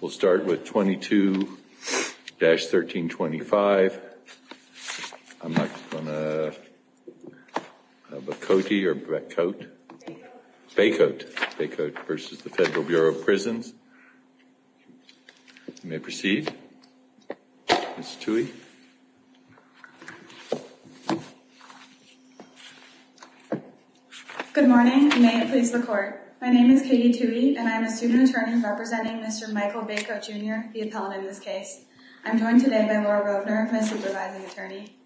We'll start with 22-1325. I'm not going to have a Cote or Bacote. Bacote. Bacote versus the Federal Bureau of Prisons. You may proceed. Ms. Tuey. Good morning and may it please the Court. My name is Katie Tuey and I am a student attorney representing Mr. Michael Bacote, Jr., the appellant in this case. I'm joined today by Laura Rovner, my supervising attorney.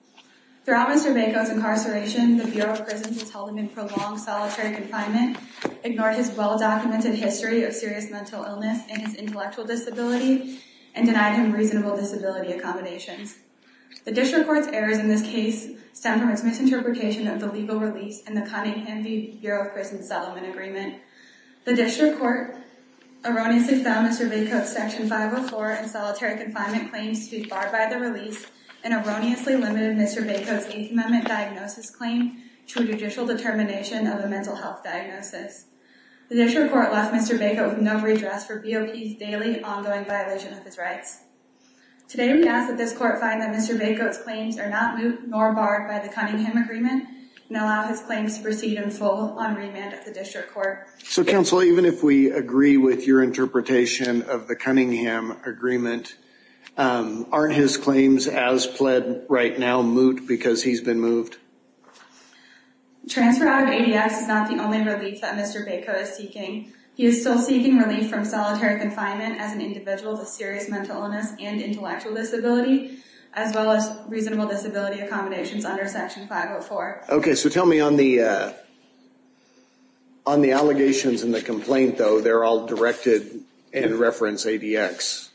Throughout Mr. Bacote's incarceration, the Bureau of Prisons has held him in prolonged solitary confinement, ignored his well-documented history of serious mental illness and his intellectual disability, and denied him reasonable disability accommodations. The District Court's errors in this case stem from its misinterpretation of the legal release and the Cunningham v. Bureau of Prisons settlement agreement. The District Court erroneously found Mr. Bacote's Section 504 and solitary confinement claims to be barred by the release and erroneously limited Mr. Bacote's Eighth Amendment diagnosis claim to a judicial determination of a mental health diagnosis. The District Court left Mr. Bacote with no redress for BOP's daily, ongoing violation of his rights. Today, we ask that this Court find that Mr. Bacote's claims are not moot nor barred by the Cunningham agreement and allow his claims to proceed in full on remand at the District Court. So, Counsel, even if we agree with your interpretation of the Cunningham agreement, aren't his claims as pled right now moot because he's been moved? Transfer out of ADX is not the only relief that Mr. Bacote is seeking. He is still seeking relief from solitary confinement as an individual with serious mental illness and intellectual disability, as well as reasonable disability accommodations under Section 504. Okay, so tell me on the allegations in the complaint, though, they're all directed in reference to ADX.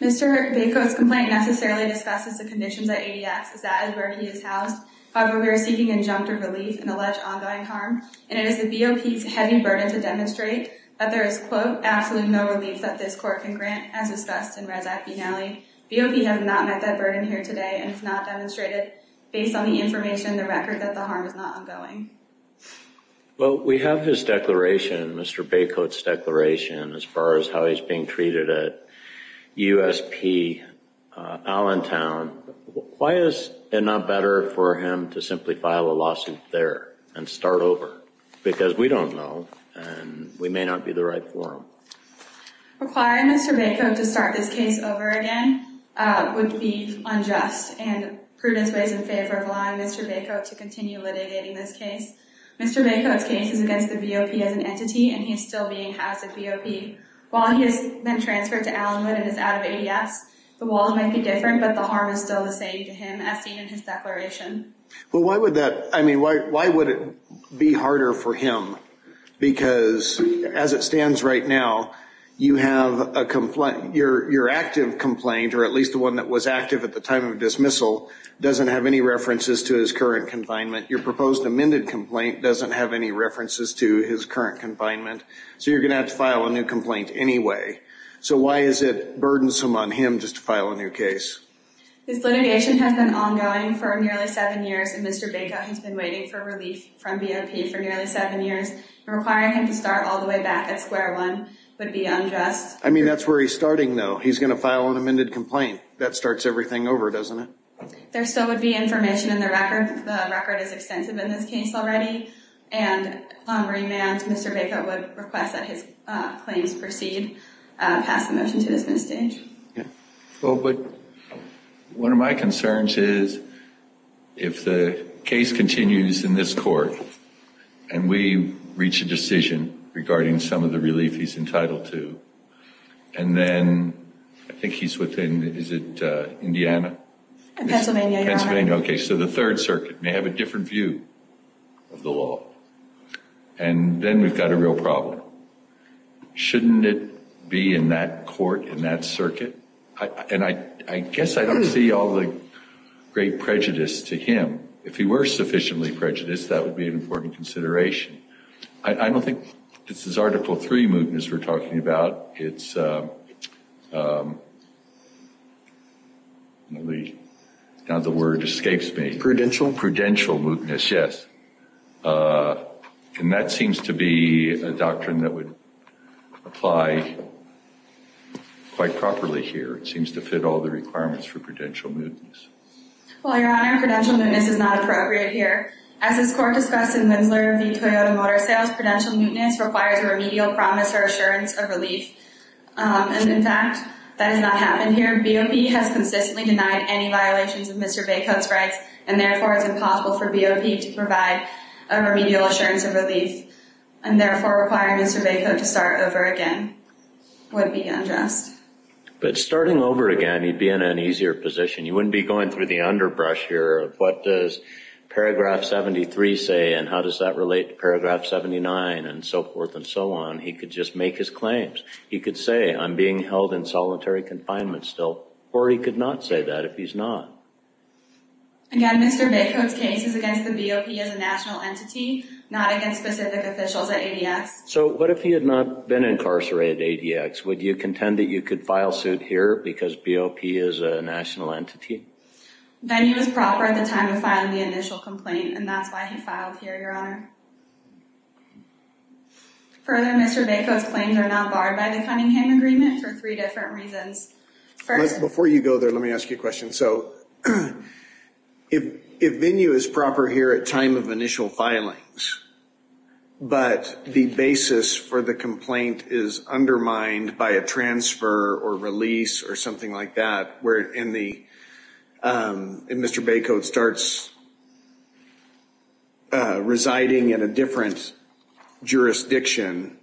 Mr. Bacote's complaint necessarily discusses the conditions at ADX, as that is where he is housed. However, we are seeking injunctive relief in alleged ongoing harm, and it is the BOP's heavy burden to demonstrate that there is, quote, absolutely no relief that this Court can grant, as discussed in Res. Act finale. BOP has not met that burden here today and has not demonstrated, based on the information in the record, that the harm is not ongoing. Well, we have his declaration, Mr. Bacote's declaration, as far as how he's being treated at USP Allentown. Why is it not better for him to simply file a lawsuit there and start over? Because we don't know, and we may not be the right forum. Requiring Mr. Bacote to start this case over again would be unjust and prudent ways in favor of allowing Mr. Bacote to continue litigating this case. Mr. Bacote's case is against the BOP as an entity, and he is still being housed at BOP. While he has been transferred to Allentown and is out of ADX, the laws might be different, but the harm is still the same to him, as seen in his declaration. Well, why would that, I mean, why would it be harder for him? Because, as it stands right now, you have a complaint, your active complaint, or at least the one that was active at the time of dismissal, doesn't have any references to his current confinement. Your proposed amended complaint doesn't have any references to his current confinement, so you're going to have to file a new complaint anyway. So why is it burdensome on him just to file a new case? This litigation has been ongoing for nearly seven years, and Mr. Bacote has been waiting for relief from BOP for nearly seven years. Requiring him to start all the way back at square one would be unjust. I mean, that's where he's starting, though. He's going to file an amended complaint. That starts everything over, doesn't it? There still would be information in the record. The record is extensive in this case already. And on remand, Mr. Bacote would request that his claims proceed, pass the motion to dismiss the case. Well, but one of my concerns is if the case continues in this court and we reach a decision regarding some of the relief he's entitled to, and then I think he's within, is it Indiana? Pennsylvania. Okay, so the Third Circuit may have a different view of the law. And then we've got a real problem. Shouldn't it be in that court, in that circuit? And I guess I don't see all the great prejudice to him. If he were sufficiently prejudiced, that would be an important consideration. I don't think this is Article III mootness we're talking about. Now the word escapes me. Prudential? Prudential mootness, yes. And that seems to be a doctrine that would apply quite properly here. It seems to fit all the requirements for prudential mootness. Well, Your Honor, prudential mootness is not appropriate here. As this Court discussed in Winslow v. Toyota Motor Sales, prudential mootness requires a remedial promise or assurance of relief. And in fact, that has not happened here. BOP has consistently denied any violations of Mr. Bacote's rights, and therefore it's impossible for BOP to provide a remedial assurance of relief, and therefore requiring Mr. Bacote to start over again would be unjust. But starting over again, he'd be in an easier position. You wouldn't be going through the underbrush here of what does Paragraph 73 say and how does that relate to Paragraph 79 and so forth and so on. He could just make his claims. He could say, I'm being held in solitary confinement still, or he could not say that if he's not. Again, Mr. Bacote's case is against the BOP as a national entity, not against specific officials at ADX. So what if he had not been incarcerated at ADX? Would you contend that you could file suit here because BOP is a national entity? Then he was proper at the time of filing the initial complaint, and that's why he filed here, Your Honor. Further, Mr. Bacote's claims are not barred by the Cunningham Agreement for three different reasons. Before you go there, let me ask you a question. So if venue is proper here at time of initial filings, but the basis for the complaint is undermined by a transfer or release or something like that where Mr. Bacote starts residing in a different jurisdiction,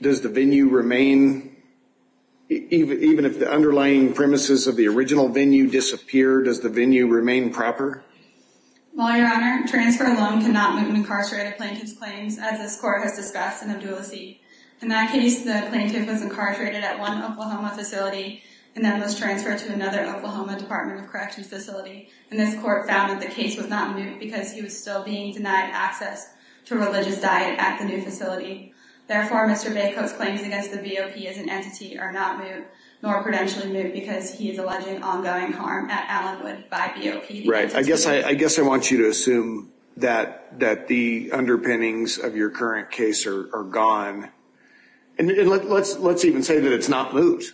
does the venue remain, even if the underlying premises of the original venue disappear, does the venue remain proper? Well, Your Honor, transfer alone cannot moot an incarcerated plaintiff's claims, as this Court has discussed in a dual seat. In that case, the plaintiff was incarcerated at one Oklahoma facility and then was transferred to another Oklahoma Department of Corrections facility. And this Court found that the case was not moot because he was still being denied access to a religious diet at the new facility. Therefore, Mr. Bacote's claims against the BOP as an entity are not moot, nor credentially moot because he is alleging ongoing harm at Allenwood by BOP. Right. I guess I want you to assume that the underpinnings of your current case are gone. And let's even say that it's not moot.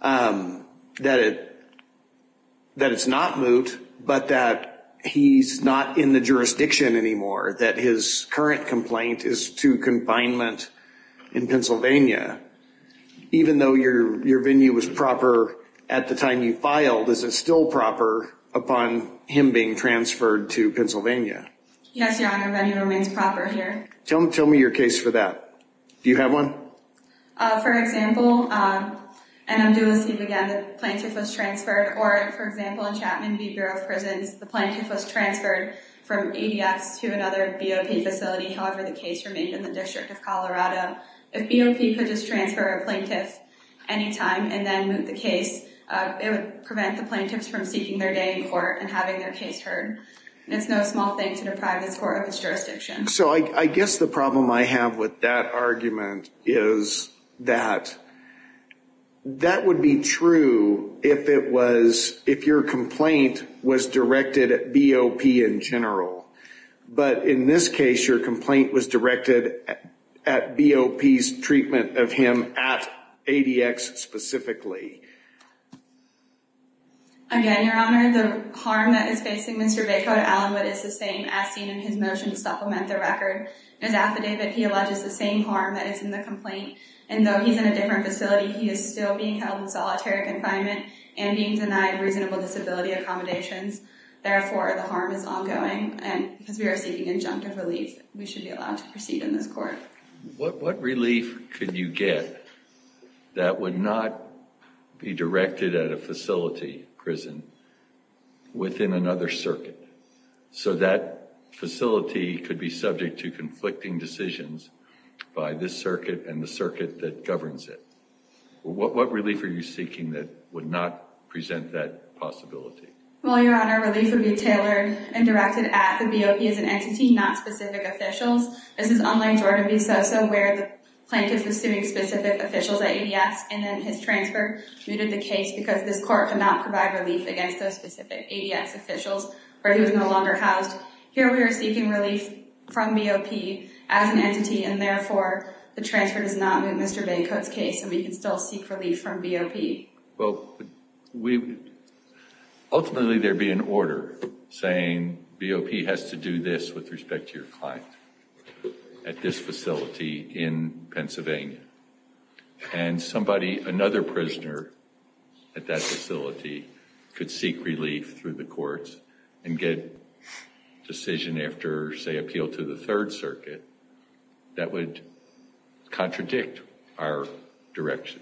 That it's not moot, but that he's not in the jurisdiction anymore. That his current complaint is to confinement in Pennsylvania. Even though your venue was proper at the time you filed, is it still proper upon him being transferred to Pennsylvania? Yes, Your Honor, venue remains proper here. Tell me your case for that. Do you have one? For example, and I'm doing this again, the plaintiff was transferred. Or, for example, in Chapman v. Bureau of Prisons, the plaintiff was transferred from ADX to another BOP facility. However, the case remained in the District of Colorado. If BOP could just transfer a plaintiff anytime and then moot the case, it would prevent the plaintiffs from seeking their day in court and having their case heard. And it's no small thing to deprive this Court of its jurisdiction. So I guess the problem I have with that argument is that that would be true if it was, if your complaint was directed at BOP in general. But in this case, your complaint was directed at BOP's treatment of him at ADX specifically. Again, Your Honor, the harm that is facing Mr. Vaco at Allinwood is the same as seen in his motion to supplement the record. In his affidavit, he alleges the same harm that is in the complaint. And though he's in a different facility, he is still being held in solitary confinement and being denied reasonable disability accommodations. Therefore, the harm is ongoing. And because we are seeking injunctive relief, we should be allowed to proceed in this court. What relief could you get that would not be directed at a facility prison within another circuit? So that facility could be subject to conflicting decisions by this circuit and the circuit that governs it. What relief are you seeking that would not present that possibility? Well, Your Honor, relief would be tailored and directed at the BOP as an entity, not specific officials. This is unlike Jordan v. Sosa, where the plaintiff is suing specific officials at ADX and then his transfer muted the case because this court could not provide relief against those specific ADX officials where he was no longer housed. Here we are seeking relief from BOP as an entity, and therefore, the transfer does not mute Mr. Van Cote's case and we can still seek relief from BOP. Well, ultimately there would be an order saying BOP has to do this with respect to your client at this facility in Pennsylvania. And somebody, another prisoner at that facility could seek relief through the courts and get a decision after, say, appeal to the Third Circuit that would contradict our direction.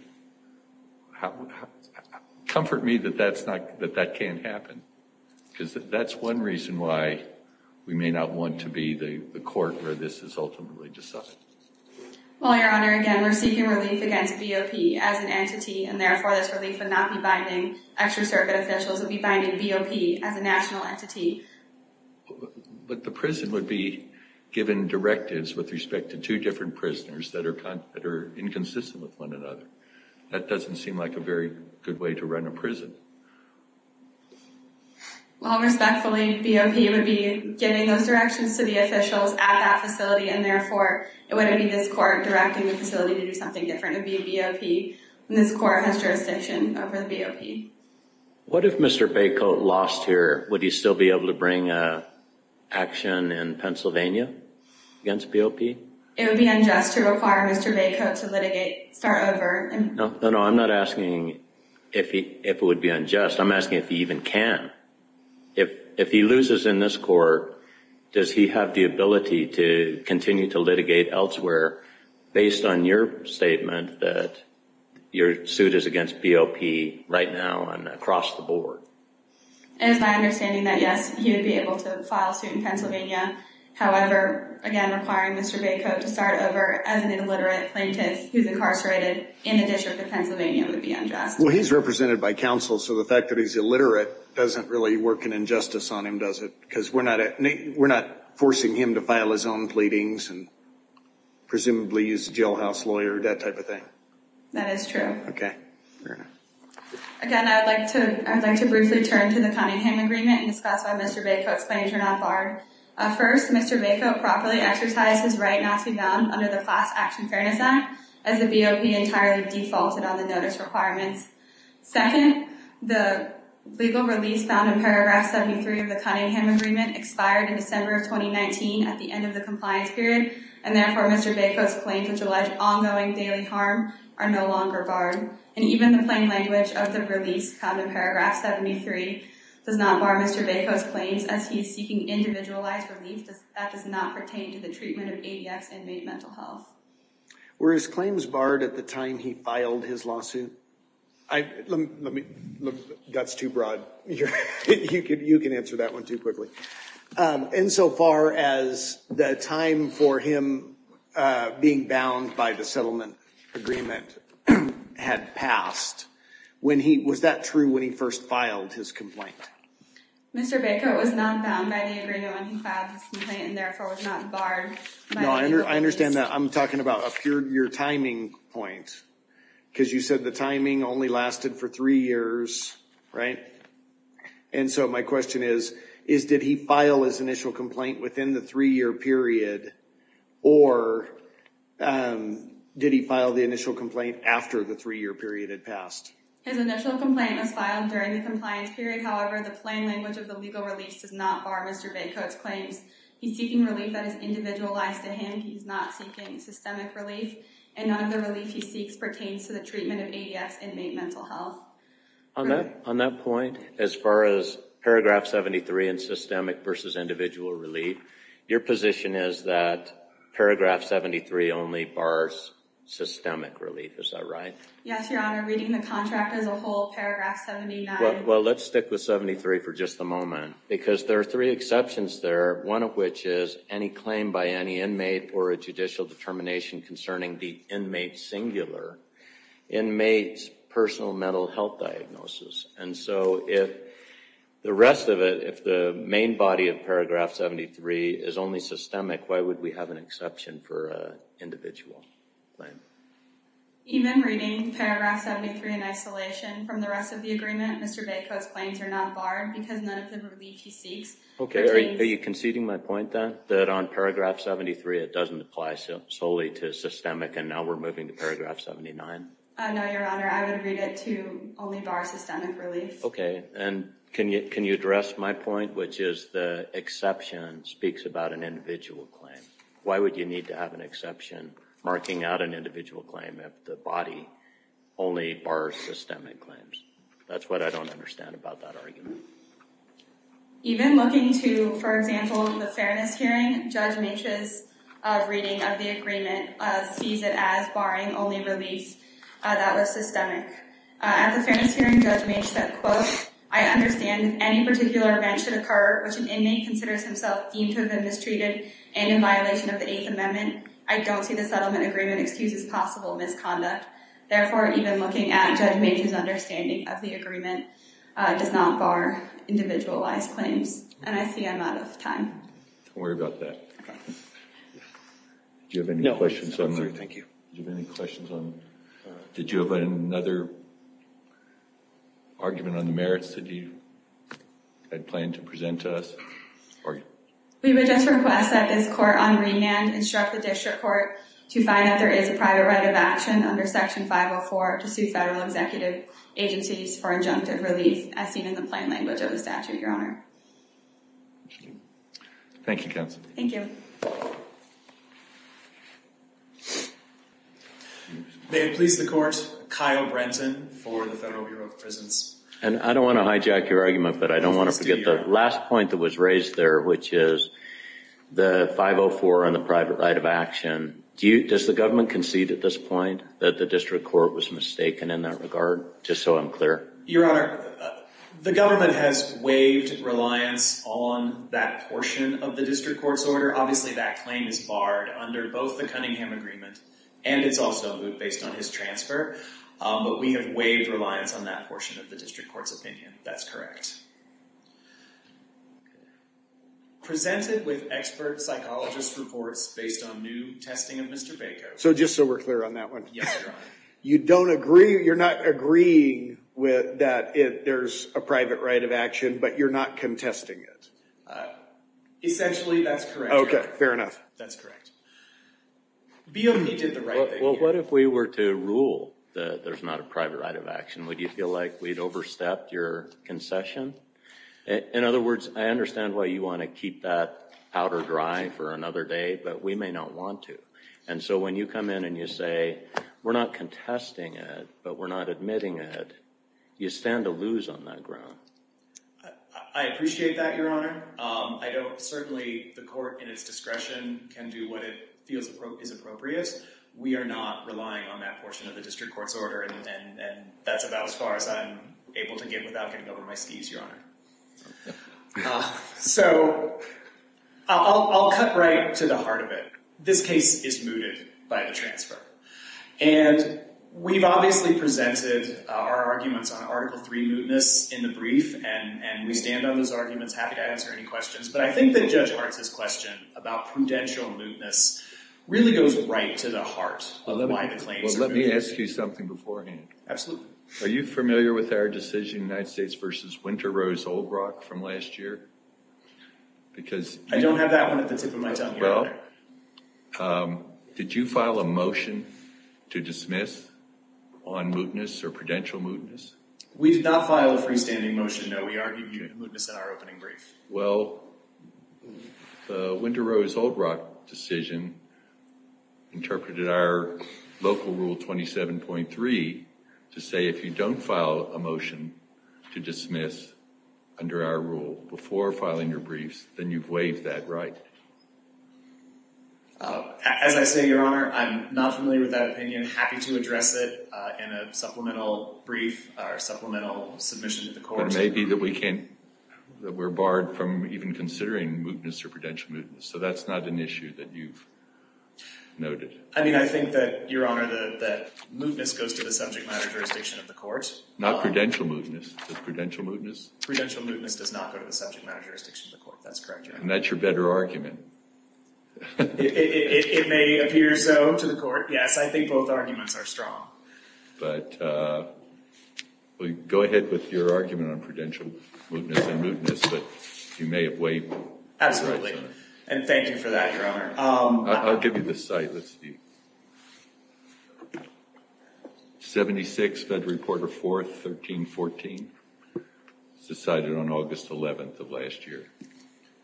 Comfort me that that can't happen because that's one reason why we may not want to be the court where this is ultimately decided. Well, Your Honor, again, we're seeking relief against BOP as an entity, and therefore this relief would not be binding Extra Circuit officials. It would be binding BOP as a national entity. But the prison would be given directives with respect to two different prisoners that are inconsistent with one another. That doesn't seem like a very good way to run a prison. Well, respectfully, BOP would be giving those directions to the officials at that facility, and therefore it wouldn't be this court directing the facility to do something different. It would be BOP, and this court has jurisdiction over the BOP. What if Mr. Van Cote lost here? Would he still be able to bring action in Pennsylvania against BOP? It would be unjust to require Mr. Van Cote to litigate, start over. No, I'm not asking if it would be unjust. I'm asking if he even can. If he loses in this court, does he have the ability to continue to litigate elsewhere based on your statement that your suit is against BOP right now and across the board? It is my understanding that, yes, he would be able to file suit in Pennsylvania. However, again, requiring Mr. Van Cote to start over as an illiterate plaintiff who's incarcerated in a district of Pennsylvania would be unjust. Well, he's represented by counsel, so the fact that he's illiterate doesn't really work an injustice on him, does it? Because we're not forcing him to file his own pleadings and presumably use a jailhouse lawyer, that type of thing. That is true. Okay. Again, I would like to briefly turn to the Cunningham Agreement and discuss why Mr. Van Cote's claims are not barred. First, Mr. Van Cote properly exercised his right not to be bound under the Class Action Fairness Act as the BOP entirely defaulted on the notice requirements. Second, the legal release found in Paragraph 73 of the Cunningham Agreement expired in December of 2019 at the end of the compliance period, and therefore Mr. Van Cote's claims which allege ongoing daily harm are no longer barred. And even the plain language of the release found in Paragraph 73 does not bar Mr. Van Cote's claims as he's seeking individualized relief that does not pertain to the treatment of ADX and made mental health. Were his claims barred at the time he filed his lawsuit? That's too broad. You can answer that one too quickly. Insofar as the time for him being bound by the settlement agreement had passed, was that true when he first filed his complaint? Mr. Baker, it was not bound by the agreement when he filed his complaint and therefore was not barred by the release. I understand that. I'm talking about your timing point because you said the timing only lasted for three years, right? And so my question is, did he file his initial complaint within the three-year period or did he file the initial complaint after the three-year period had passed? His initial complaint was filed during the compliance period. However, the plain language of the legal release does not bar Mr. Van Cote's claims. He's seeking relief that is individualized to him. He's not seeking systemic relief, and none of the relief he seeks pertains to the treatment of ADX and made mental health. On that point, as far as paragraph 73 and systemic versus individual relief, your position is that paragraph 73 only bars systemic relief. Is that right? Yes, Your Honor. Reading the contract as a whole, paragraph 79— Well, let's stick with 73 for just a moment because there are three exceptions there. One of which is any claim by any inmate or a judicial determination concerning the inmate singular, inmate's personal mental health diagnosis. And so if the rest of it, if the main body of paragraph 73 is only systemic, why would we have an exception for an individual claim? Even reading paragraph 73 in isolation from the rest of the agreement, Mr. Van Cote's claims are not barred because none of the relief he seeks pertains— Okay. Are you conceding my point, then, that on paragraph 73 it doesn't apply solely to systemic and now we're moving to paragraph 79? No, Your Honor. I would read it to only bar systemic relief. Okay. And can you address my point, which is the exception speaks about an individual claim. Why would you need to have an exception marking out an individual claim if the body only bars systemic claims? That's what I don't understand about that argument. Even looking to, for example, the Fairness Hearing, Judge Meech's reading of the agreement sees it as barring only relief that was systemic. At the Fairness Hearing, Judge Meech said, quote, I understand if any particular event should occur which an inmate considers himself deemed to have been mistreated and in violation of the Eighth Amendment, I don't see the settlement agreement excuses possible misconduct. Therefore, even looking at Judge Meech's understanding of the agreement does not bar individualized claims. And I see I'm out of time. Don't worry about that. Okay. Do you have any questions? No. I'm sorry. Thank you. Do you have any questions on— Did you have another argument on the merits that you had planned to present to us? We would just request that this court on remand instruct the district court to find out there is a private right of action under Section 504 to sue federal executive agencies for injunctive relief, as seen in the plain language of the statute, Your Honor. Thank you, Counsel. Thank you. May it please the Court, Kyle Brenton for the Federal Bureau of Prisons. And I don't want to hijack your argument, but I don't want to forget the last point that was raised there, which is the 504 on the private right of action. Does the government concede at this point that the district court was mistaken in that regard, just so I'm clear? Your Honor, the government has waived reliance on that portion of the district court's order. Obviously, that claim is barred under both the Cunningham Agreement, and it's also moot based on his transfer. But we have waived reliance on that portion of the district court's opinion. That's correct. Presented with expert psychologist reports based on new testing of Mr. Bacow. So just so we're clear on that one. Yes, Your Honor. You're not agreeing that there's a private right of action, but you're not contesting it? Essentially, that's correct. Okay, fair enough. That's correct. BOP did the right thing here. Well, what if we were to rule that there's not a private right of action? Would you feel like we'd overstepped your concession? In other words, I understand why you want to keep that powder dry for another day, but we may not want to. And so when you come in and you say, we're not contesting it, but we're not admitting it, you stand to lose on that ground. I appreciate that, Your Honor. Certainly, the court in its discretion can do what it feels is appropriate. We are not relying on that portion of the district court's order, and that's about as far as I'm able to get without getting over my skis, Your Honor. So I'll cut right to the heart of it. This case is mooted by the transfer. And we've obviously presented our arguments on Article III mootness in the brief, and we stand on those arguments, happy to answer any questions. But I think that Judge Hart's question about prudential mootness really goes right to the heart of why the claims are mooted. Well, let me ask you something beforehand. Absolutely. Are you familiar with our decision in the United States versus Winter Rose Old Rock from last year? I don't have that one at the tip of my tongue, Your Honor. Well, did you file a motion to dismiss on mootness or prudential mootness? We did not file a freestanding motion, no. We argued mootness in our opening brief. Well, the Winter Rose Old Rock decision interpreted our local rule 27.3 to say if you don't file a motion to dismiss under our rule before filing your briefs, then you've waived that right? As I say, Your Honor, I'm not familiar with that opinion, happy to address it in a supplemental brief or supplemental submission to the court. But it may be that we're barred from even considering mootness or prudential mootness. So that's not an issue that you've noted. I mean, I think that, Your Honor, that mootness goes to the subject matter jurisdiction of the court. Not prudential mootness. Is it prudential mootness? Prudential mootness does not go to the subject matter jurisdiction of the court. That's correct, Your Honor. And that's your better argument. It may appear so to the court, yes. I think both arguments are strong. But go ahead with your argument on prudential mootness and mootness. But you may have waived. Absolutely. And thank you for that, Your Honor. I'll give you the site. Let's see. 76, Federal Reporter 4, 1314. It was decided on August 11th of last year.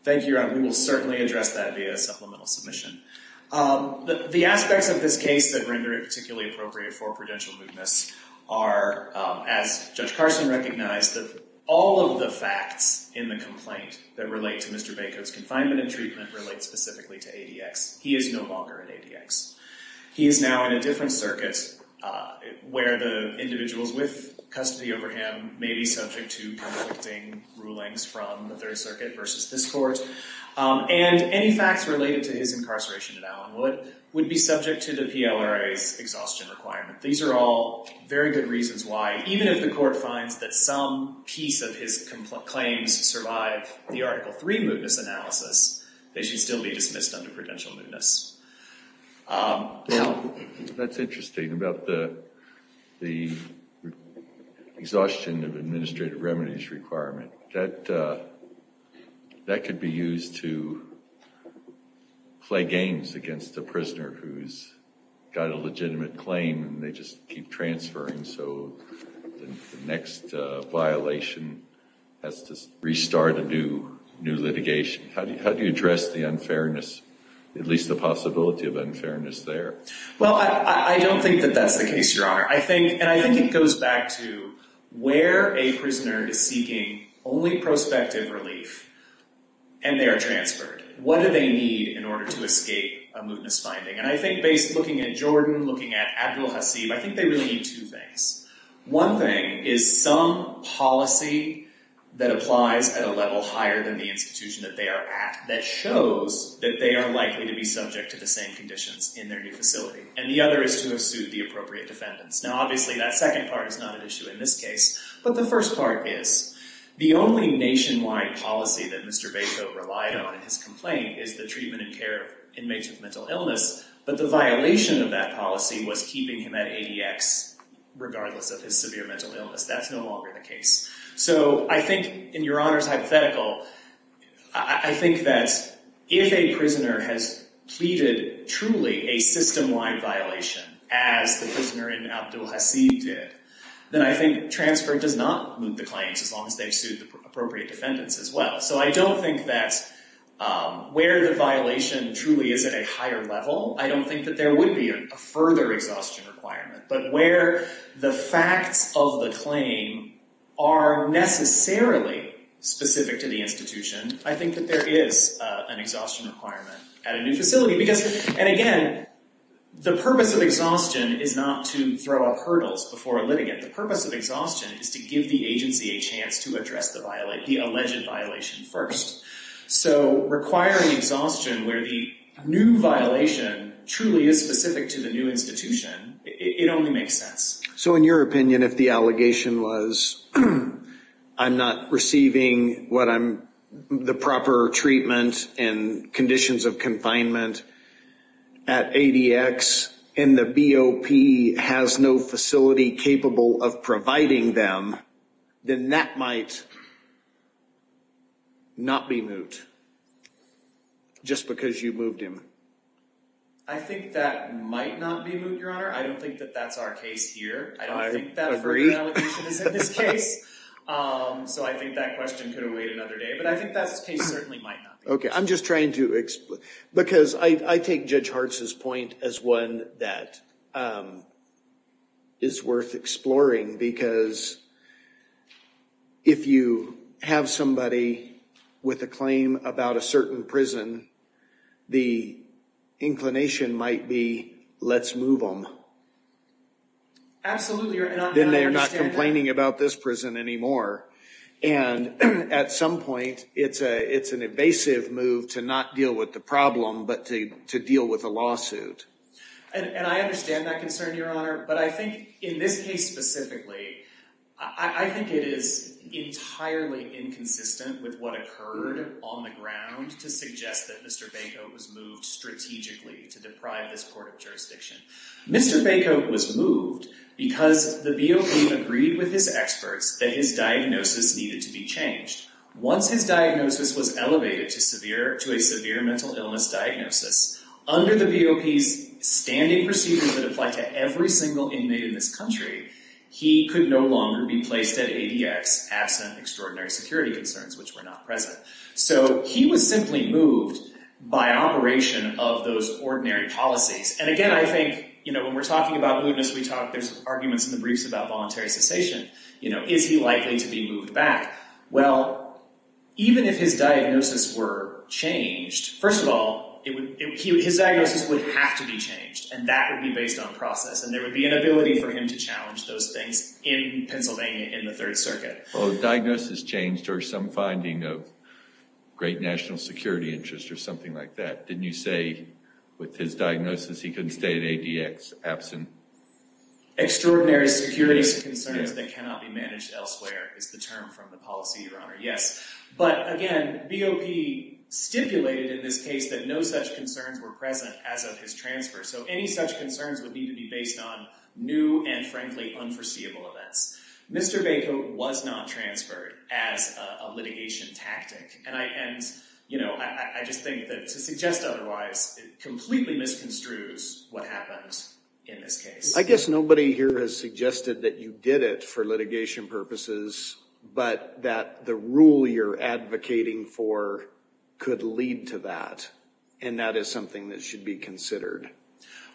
Thank you, Your Honor. We will certainly address that via a supplemental submission. The aspects of this case that render it particularly appropriate for prudential mootness are, as Judge Carson recognized, all of the facts in the complaint that relate to Mr. Bacon's confinement and treatment relate specifically to ADX. He is no longer in ADX. He is now in a different circuit where the individuals with custody over him may be subject to conflicting rulings from the Third Circuit versus this court. And any facts related to his incarceration at Allenwood would be subject to the PLRA's exhaustion requirement. These are all very good reasons why, even if the court finds that some piece of his claims survive the Article III mootness analysis, they should still be dismissed under prudential mootness. Now, that's interesting about the exhaustion of administrative remedies requirement. That could be used to play games against a prisoner who's got a legitimate claim and they just keep transferring, so the next violation has to restart a new litigation. How do you address the unfairness, at least the possibility of unfairness there? Well, I don't think that that's the case, Your Honor. And I think it goes back to where a prisoner is seeking only prospective relief and they are transferred. What do they need in order to escape a mootness finding? And I think based, looking at Jordan, looking at Abdul Hasib, I think they really need two things. One thing is some policy that applies at a level higher than the institution that they are at, that shows that they are likely to be subject to the same conditions in their new facility. And the other is to have sued the appropriate defendants. Now, obviously, that second part is not an issue in this case, but the first part is, the only nationwide policy that Mr. Bacow relied on in his complaint is the treatment and care of inmates with mental illness, but the violation of that policy was keeping him at ADX regardless of his severe mental illness. That's no longer the case. So I think, in Your Honor's hypothetical, I think that if a prisoner has pleaded truly a system-wide violation, as the prisoner in Abdul Hasib did, then I think transfer does not moot the claims, as long as they've sued the appropriate defendants as well. So I don't think that where the violation truly is at a higher level, I don't think that there would be a further exhaustion requirement. But where the facts of the claim are necessarily specific to the institution, I think that there is an exhaustion requirement at a new facility. Because, and again, the purpose of exhaustion is not to throw up hurdles before a litigant. The purpose of exhaustion is to give the agency a chance to address the alleged violation first. So requiring exhaustion where the new violation truly is specific to the new institution, it only makes sense. So in your opinion, if the allegation was, I'm not receiving the proper treatment and conditions of confinement at ADX, and the BOP has no facility capable of providing them, then that might not be moot, just because you moved him. I think that might not be moot, Your Honor. I don't think that that's our case here. I agree. I don't think that further allegation is in this case. So I think that question could await another day. But I think that case certainly might not be moot. Okay. I'm just trying to explain. Because I take Judge Hartz's point as one that is worth exploring. Because if you have somebody with a claim about a certain prison, the inclination might be, let's move them. Absolutely. Then they're not complaining about this prison anymore. And at some point, it's an evasive move to not deal with the problem, but to deal with the lawsuit. And I understand that concern, Your Honor. But I think in this case specifically, I think it is entirely inconsistent with what occurred on the ground to suggest that Mr. Banco was moved strategically to deprive this court of jurisdiction. Mr. Banco was moved because the BOP agreed with his experts that his diagnosis needed to be changed. Once his diagnosis was elevated to a severe mental illness diagnosis, under the BOP's standing procedures that apply to every single inmate in this country, he could no longer be placed at ADX absent extraordinary security concerns, which were not present. So he was simply moved by operation of those ordinary policies. And, again, I think when we're talking about mootness, there's arguments in the briefs about voluntary cessation. Is he likely to be moved back? Well, even if his diagnosis were changed, first of all, his diagnosis would have to be changed, and that would be based on process. And there would be an ability for him to challenge those things in Pennsylvania in the Third Circuit. Well, the diagnosis changed or some finding of great national security interest or something like that. Didn't you say with his diagnosis, he couldn't stay at ADX absent? Extraordinary security concerns that cannot be managed elsewhere is the term from the policy, Your Honor. Yes. But, again, BOP stipulated in this case that no such concerns were present as of his transfer. So any such concerns would need to be based on new and, frankly, unforeseeable events. Mr. Bacon was not transferred as a litigation tactic. And I just think that to suggest otherwise, it completely misconstrues what happened in this case. I guess nobody here has suggested that you did it for litigation purposes, but that the rule you're advocating for could lead to that, and that is something that should be considered.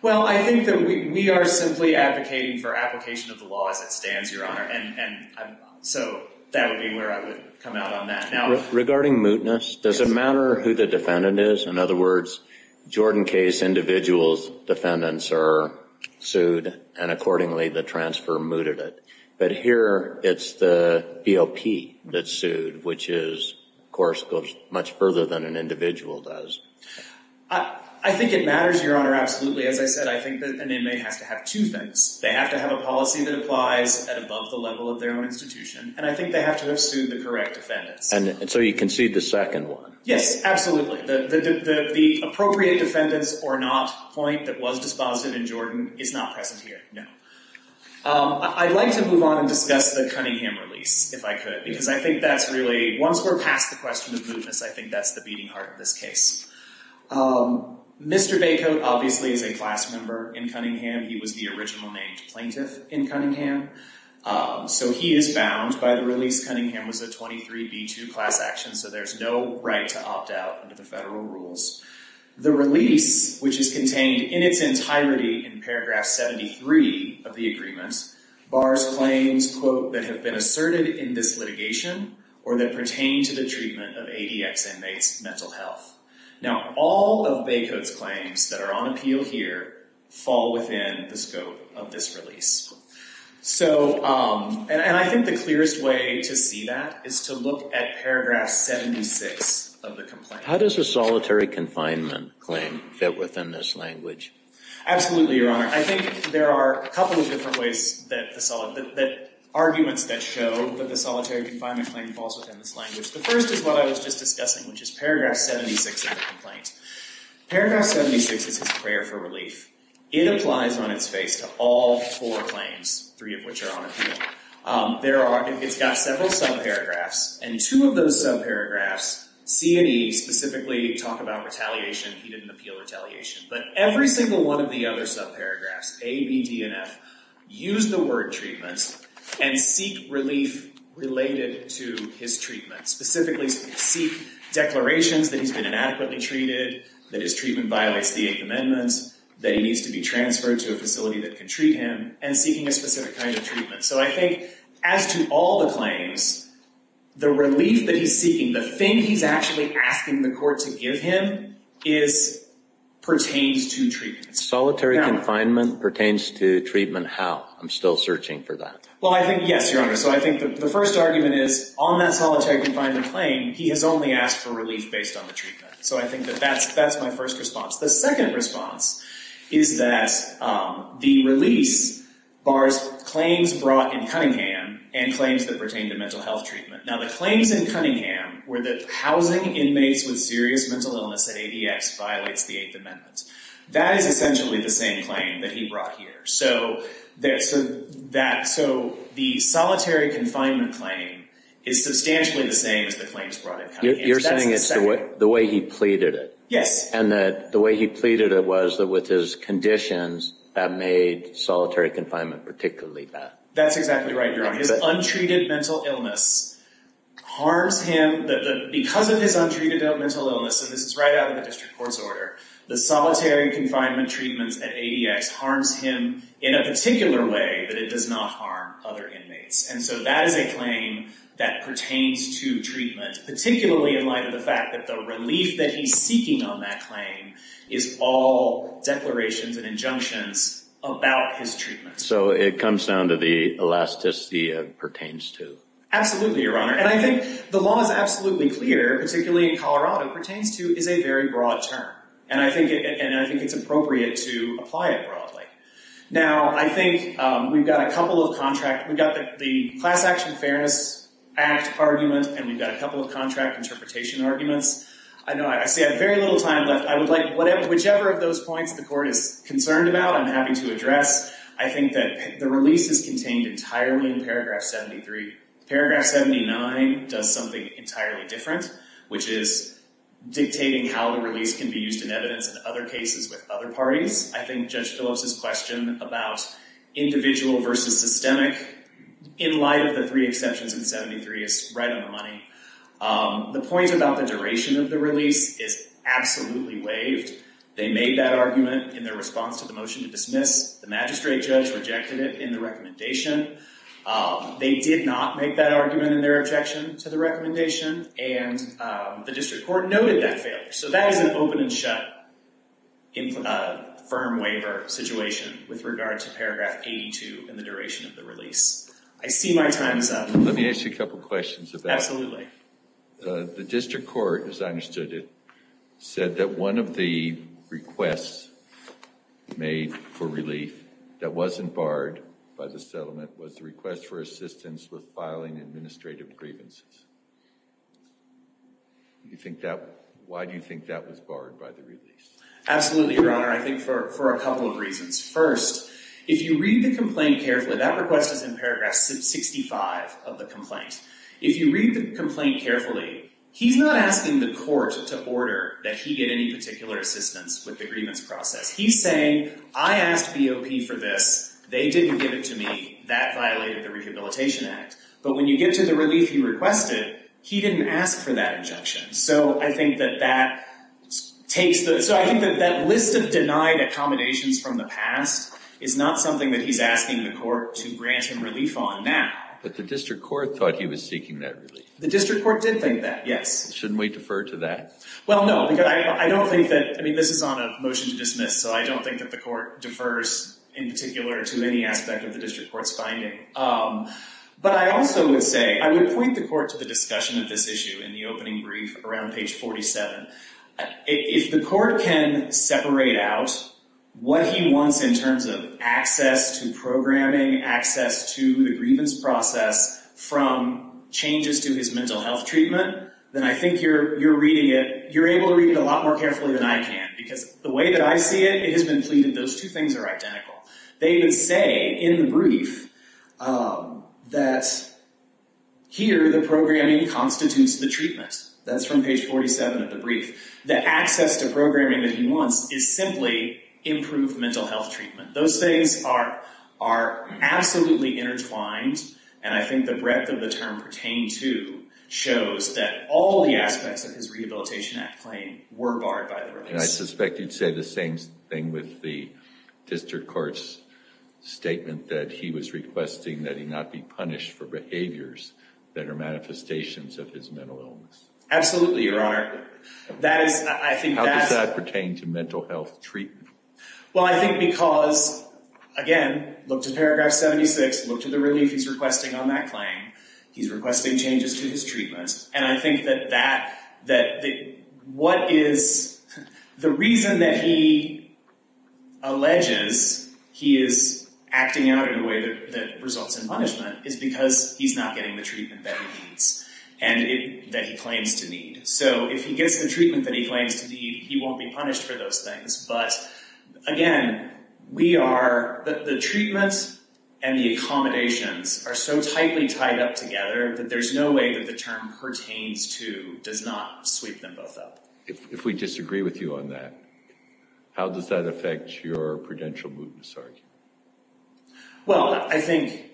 Well, I think that we are simply advocating for application of the law as it stands, Your Honor, and so that would be where I would come out on that. Regarding mootness, does it matter who the defendant is? In other words, Jordan case individuals' defendants are sued, and accordingly the transfer mooted it. But here it's the BOP that's sued, which is, of course, goes much further than an individual does. I think it matters, Your Honor, absolutely. As I said, I think that an inmate has to have two things. They have to have a policy that applies at above the level of their own institution, and I think they have to have sued the correct defendants. And so you concede the second one? Yes, absolutely. The appropriate defendants or not point that was disposited in Jordan is not present here, no. I'd like to move on and discuss the Cunningham release, if I could, because I think that's really, once we're past the question of mootness, I think that's the beating heart of this case. Mr. Baycoat obviously is a class member in Cunningham. He was the original named plaintiff in Cunningham, so he is bound by the release Cunningham was a 23B2 class action, so there's no right to opt out under the federal rules. The release, which is contained in its entirety in paragraph 73 of the agreement, bars claims, quote, that have been asserted in this litigation or that pertain to the treatment of ADX inmates' mental health. Now, all of Baycoat's claims that are on appeal here fall within the scope of this release. And I think the clearest way to see that is to look at paragraph 76 of the complaint. How does a solitary confinement claim fit within this language? Absolutely, Your Honor. I think there are a couple of different ways that arguments that show that the solitary confinement claim falls within this language. The first is what I was just discussing, which is paragraph 76 of the complaint. Paragraph 76 is his prayer for relief. It applies on its face to all four claims, three of which are on appeal. It's got several subparagraphs, and two of those subparagraphs, C and E, specifically talk about retaliation, he didn't appeal retaliation. But every single one of the other subparagraphs, A, B, D, and F, use the word treatment and seek relief related to his treatment. Specifically, seek declarations that he's been inadequately treated, that his treatment violates the Eighth Amendment, that he needs to be transferred to a facility that can treat him, and seeking a specific kind of treatment. So I think as to all the claims, the relief that he's seeking, the thing he's actually asking the court to give him, pertains to treatment. Solitary confinement pertains to treatment how? I'm still searching for that. Well, I think, yes, Your Honor. So I think the first argument is on that solitary confinement claim, he has only asked for relief based on the treatment. So I think that that's my first response. The second response is that the release bars claims brought in Cunningham and claims that pertain to mental health treatment. Now the claims in Cunningham were that housing inmates with serious mental illness at ADX violates the Eighth Amendment. That is essentially the same claim that he brought here. So the solitary confinement claim is substantially the same as the claims brought in Cunningham. You're saying it's the way he pleaded it. Yes. And that the way he pleaded it was that with his conditions, that made solitary confinement particularly bad. That's exactly right, Your Honor. His untreated mental illness harms him. Because of his untreated mental illness, and this is right out of the district court's order, the solitary confinement treatments at ADX harms him in a particular way that it does not harm other inmates. And so that is a claim that pertains to treatment, particularly in light of the fact that the relief that he's seeking on that claim is all declarations and injunctions about his treatment. So it comes down to the elasticity of pertains to. Absolutely, Your Honor. And I think the law is absolutely clear, particularly in Colorado, pertains to is a very broad term. And I think it's appropriate to apply it broadly. Now I think we've got a couple of contract, we've got the Class Action Fairness Act argument, and we've got a couple of contract interpretation arguments. I know I say I have very little time left. Whichever of those points the court is concerned about, I'm happy to address. I think that the release is contained entirely in paragraph 73. Paragraph 79 does something entirely different, which is dictating how the release can be used in evidence in other cases with other parties. I think Judge Phillips' question about individual versus systemic in light of the three exceptions in 73 is right on the money. The point about the duration of the release is absolutely waived. They made that argument in their response to the motion to dismiss. The magistrate judge rejected it in the recommendation. They did not make that argument in their objection to the recommendation. And the district court noted that failure. So that is an open and shut firm waiver situation with regard to paragraph 82 and the duration of the release. I see my time is up. Let me ask you a couple of questions about that. Absolutely. The district court, as I understood it, said that one of the requests made for relief that wasn't barred by the settlement was the request for assistance with filing administrative grievances. Why do you think that was barred by the release? Absolutely, Your Honor. I think for a couple of reasons. First, if you read the complaint carefully, that request is in paragraph 65 of the complaint. If you read the complaint carefully, he's not asking the court to order that he get any particular assistance with the grievance process. He's saying, I asked BOP for this. They didn't give it to me. That violated the Rehabilitation Act. But when you get to the relief he requested, he didn't ask for that objection. So I think that that list of denied accommodations from the past is not something that he's asking the court to grant him relief on now. But the district court thought he was seeking that relief. The district court did think that, yes. Shouldn't we defer to that? Well, no, because I don't think that, I mean, this is on a motion to dismiss, so I don't think that the court defers in particular to any aspect of the district court's finding. But I also would say, I would point the court to the discussion of this issue in the opening brief around page 47. If the court can separate out what he wants in terms of access to programming, access to the grievance process from changes to his mental health treatment, then I think you're reading it, you're able to read it a lot more carefully than I can. Because the way that I see it, it has been pleaded. Those two things are identical. They even say in the brief that here the programming constitutes the treatment. That's from page 47 of the brief. The access to programming that he wants is simply improved mental health treatment. Those things are absolutely intertwined, and I think the breadth of the term pertained to shows that all the aspects of his Rehabilitation Act claim were barred by the rights. And I suspect you'd say the same thing with the district court's statement that he was requesting that he not be punished for behaviors that are Absolutely, Your Honor. How does that pertain to mental health treatment? Well, I think because, again, look to paragraph 76, look to the relief he's requesting on that claim. He's requesting changes to his treatment. And I think that what is the reason that he alleges he is acting out in a way that results in punishment is because he's not getting the treatment that he claims to need. So if he gets the treatment that he claims to need, he won't be punished for those things. But, again, we are, the treatments and the accommodations are so tightly tied up together that there's no way that the term pertains to does not sweep them both up. If we disagree with you on that, how does that affect your prudential mootness argument? Well, I think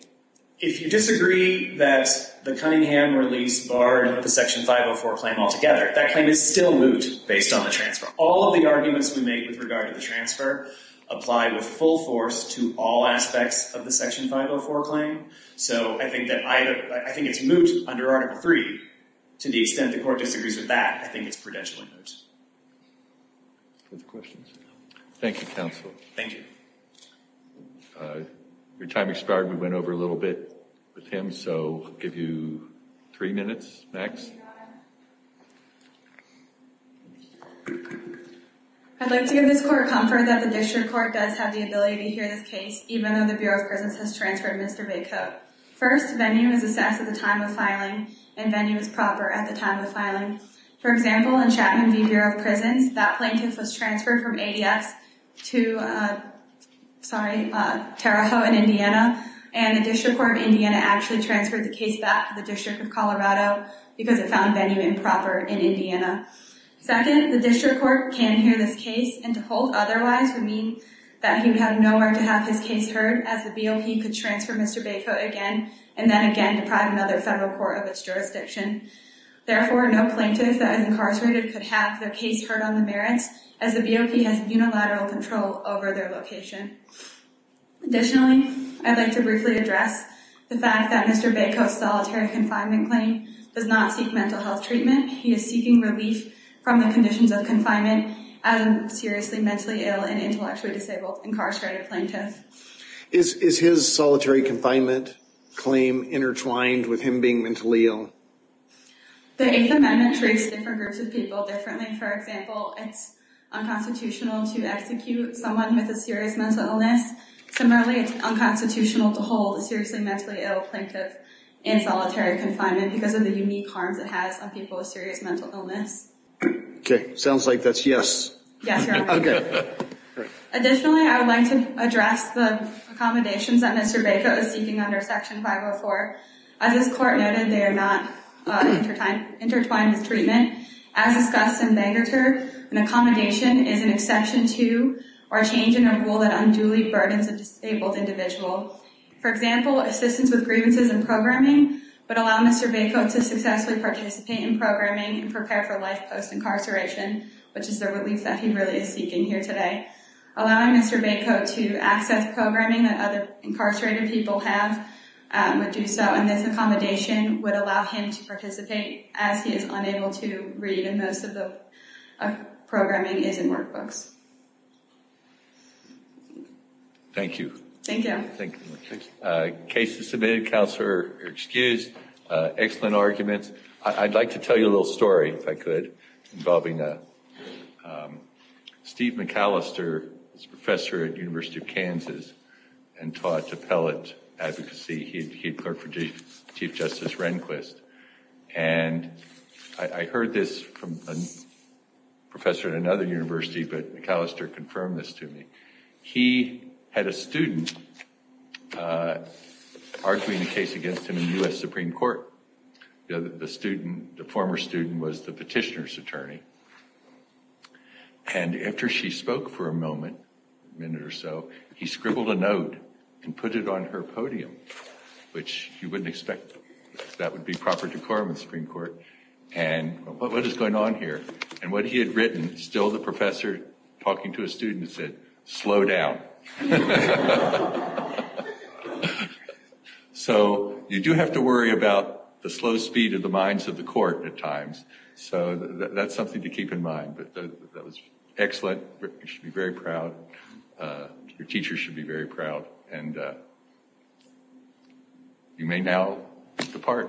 if you disagree that the Cunningham release barred the Section 504 claim altogether, that claim is still moot based on the transfer. All of the arguments we make with regard to the transfer apply with full force to all aspects of the Section 504 claim. So I think it's moot under Article III. To the extent the court disagrees with that, I think it's prudentially moot. Further questions? Thank you, counsel. Your time expired. We went over a little bit with him. So I'll give you three minutes next. I'd like to give this court comfort that the district court does have the ability to hear this case, even though the Bureau of Prisons has transferred Mr. Bigcoat. First, venue is assessed at the time of filing, and venue is proper at the time of filing. For example, in Chapman v. Bureau of Prisons, that plaintiff was transferred from ADFs to, sorry, Terre Haute in Indiana, and the District Court of Indiana actually transferred the case back to the District of Colorado because it found venue improper in Indiana. Second, the district court can hear this case, and to hold otherwise would mean that he would have nowhere to have his case heard, as the BOP could transfer Mr. Bigcoat again, and then again deprive another federal court of its jurisdiction. Therefore, no plaintiff that is incarcerated could have their case heard on the merits, as the BOP has unilateral control over their location. Additionally, I'd like to briefly address the fact that Mr. Bigcoat's solitary confinement claim does not seek mental health treatment. He is seeking relief from the conditions of confinement as a seriously mentally ill and intellectually disabled incarcerated plaintiff. Is his solitary confinement claim intertwined with him being mentally ill? The Eighth Amendment treats different groups of people differently. For example, it's unconstitutional to execute someone with a serious mental illness. Similarly, it's unconstitutional to hold a seriously mentally ill plaintiff in solitary confinement because of the unique harms it has on people with serious mental illness. Okay. Sounds like that's yes. Yes, Your Honor. Okay. Additionally, I would like to address the accommodations that Mr. Bigcoat is seeking under Section 504. As this court noted, they are not intertwined with treatment. As discussed in Megater, an accommodation is an exception to, or a change in a rule that unduly burdens a disabled individual. For example, assistance with grievances and programming would allow Mr. Bigcoat to successfully participate in programming and prepare for life post-incarceration, which is the relief that he really is seeking here today. Allowing Mr. Bigcoat to access programming that other incarcerated people have would do so. And this accommodation would allow him to participate as he is unable to read, and most of the programming is in workbooks. Thank you. Thank you. Thank you. The case is submitted. Counselor, you're excused. Excellent arguments. I'd like to tell you a little story, if I could, involving Steve McAllister, who's a professor at the University of Kansas and taught appellate advocacy. He clerked for Chief Justice Rehnquist. And I heard this from a professor at another university, but McAllister confirmed this to me. He had a student arguing a case against him in the U.S. Supreme Court. The former student was the petitioner's attorney. And after she spoke for a moment, a minute or so, he scribbled a note and put it on her podium, which you wouldn't expect because that would be proper decorum of the Supreme Court. And what is going on here? And what he had written, still the professor talking to a student, said, slow down. So you do have to worry about the slow speed of the minds of the court at times. So that's something to keep in mind. But that was excellent. You should be very proud. Your teacher should be very proud. And you may now depart.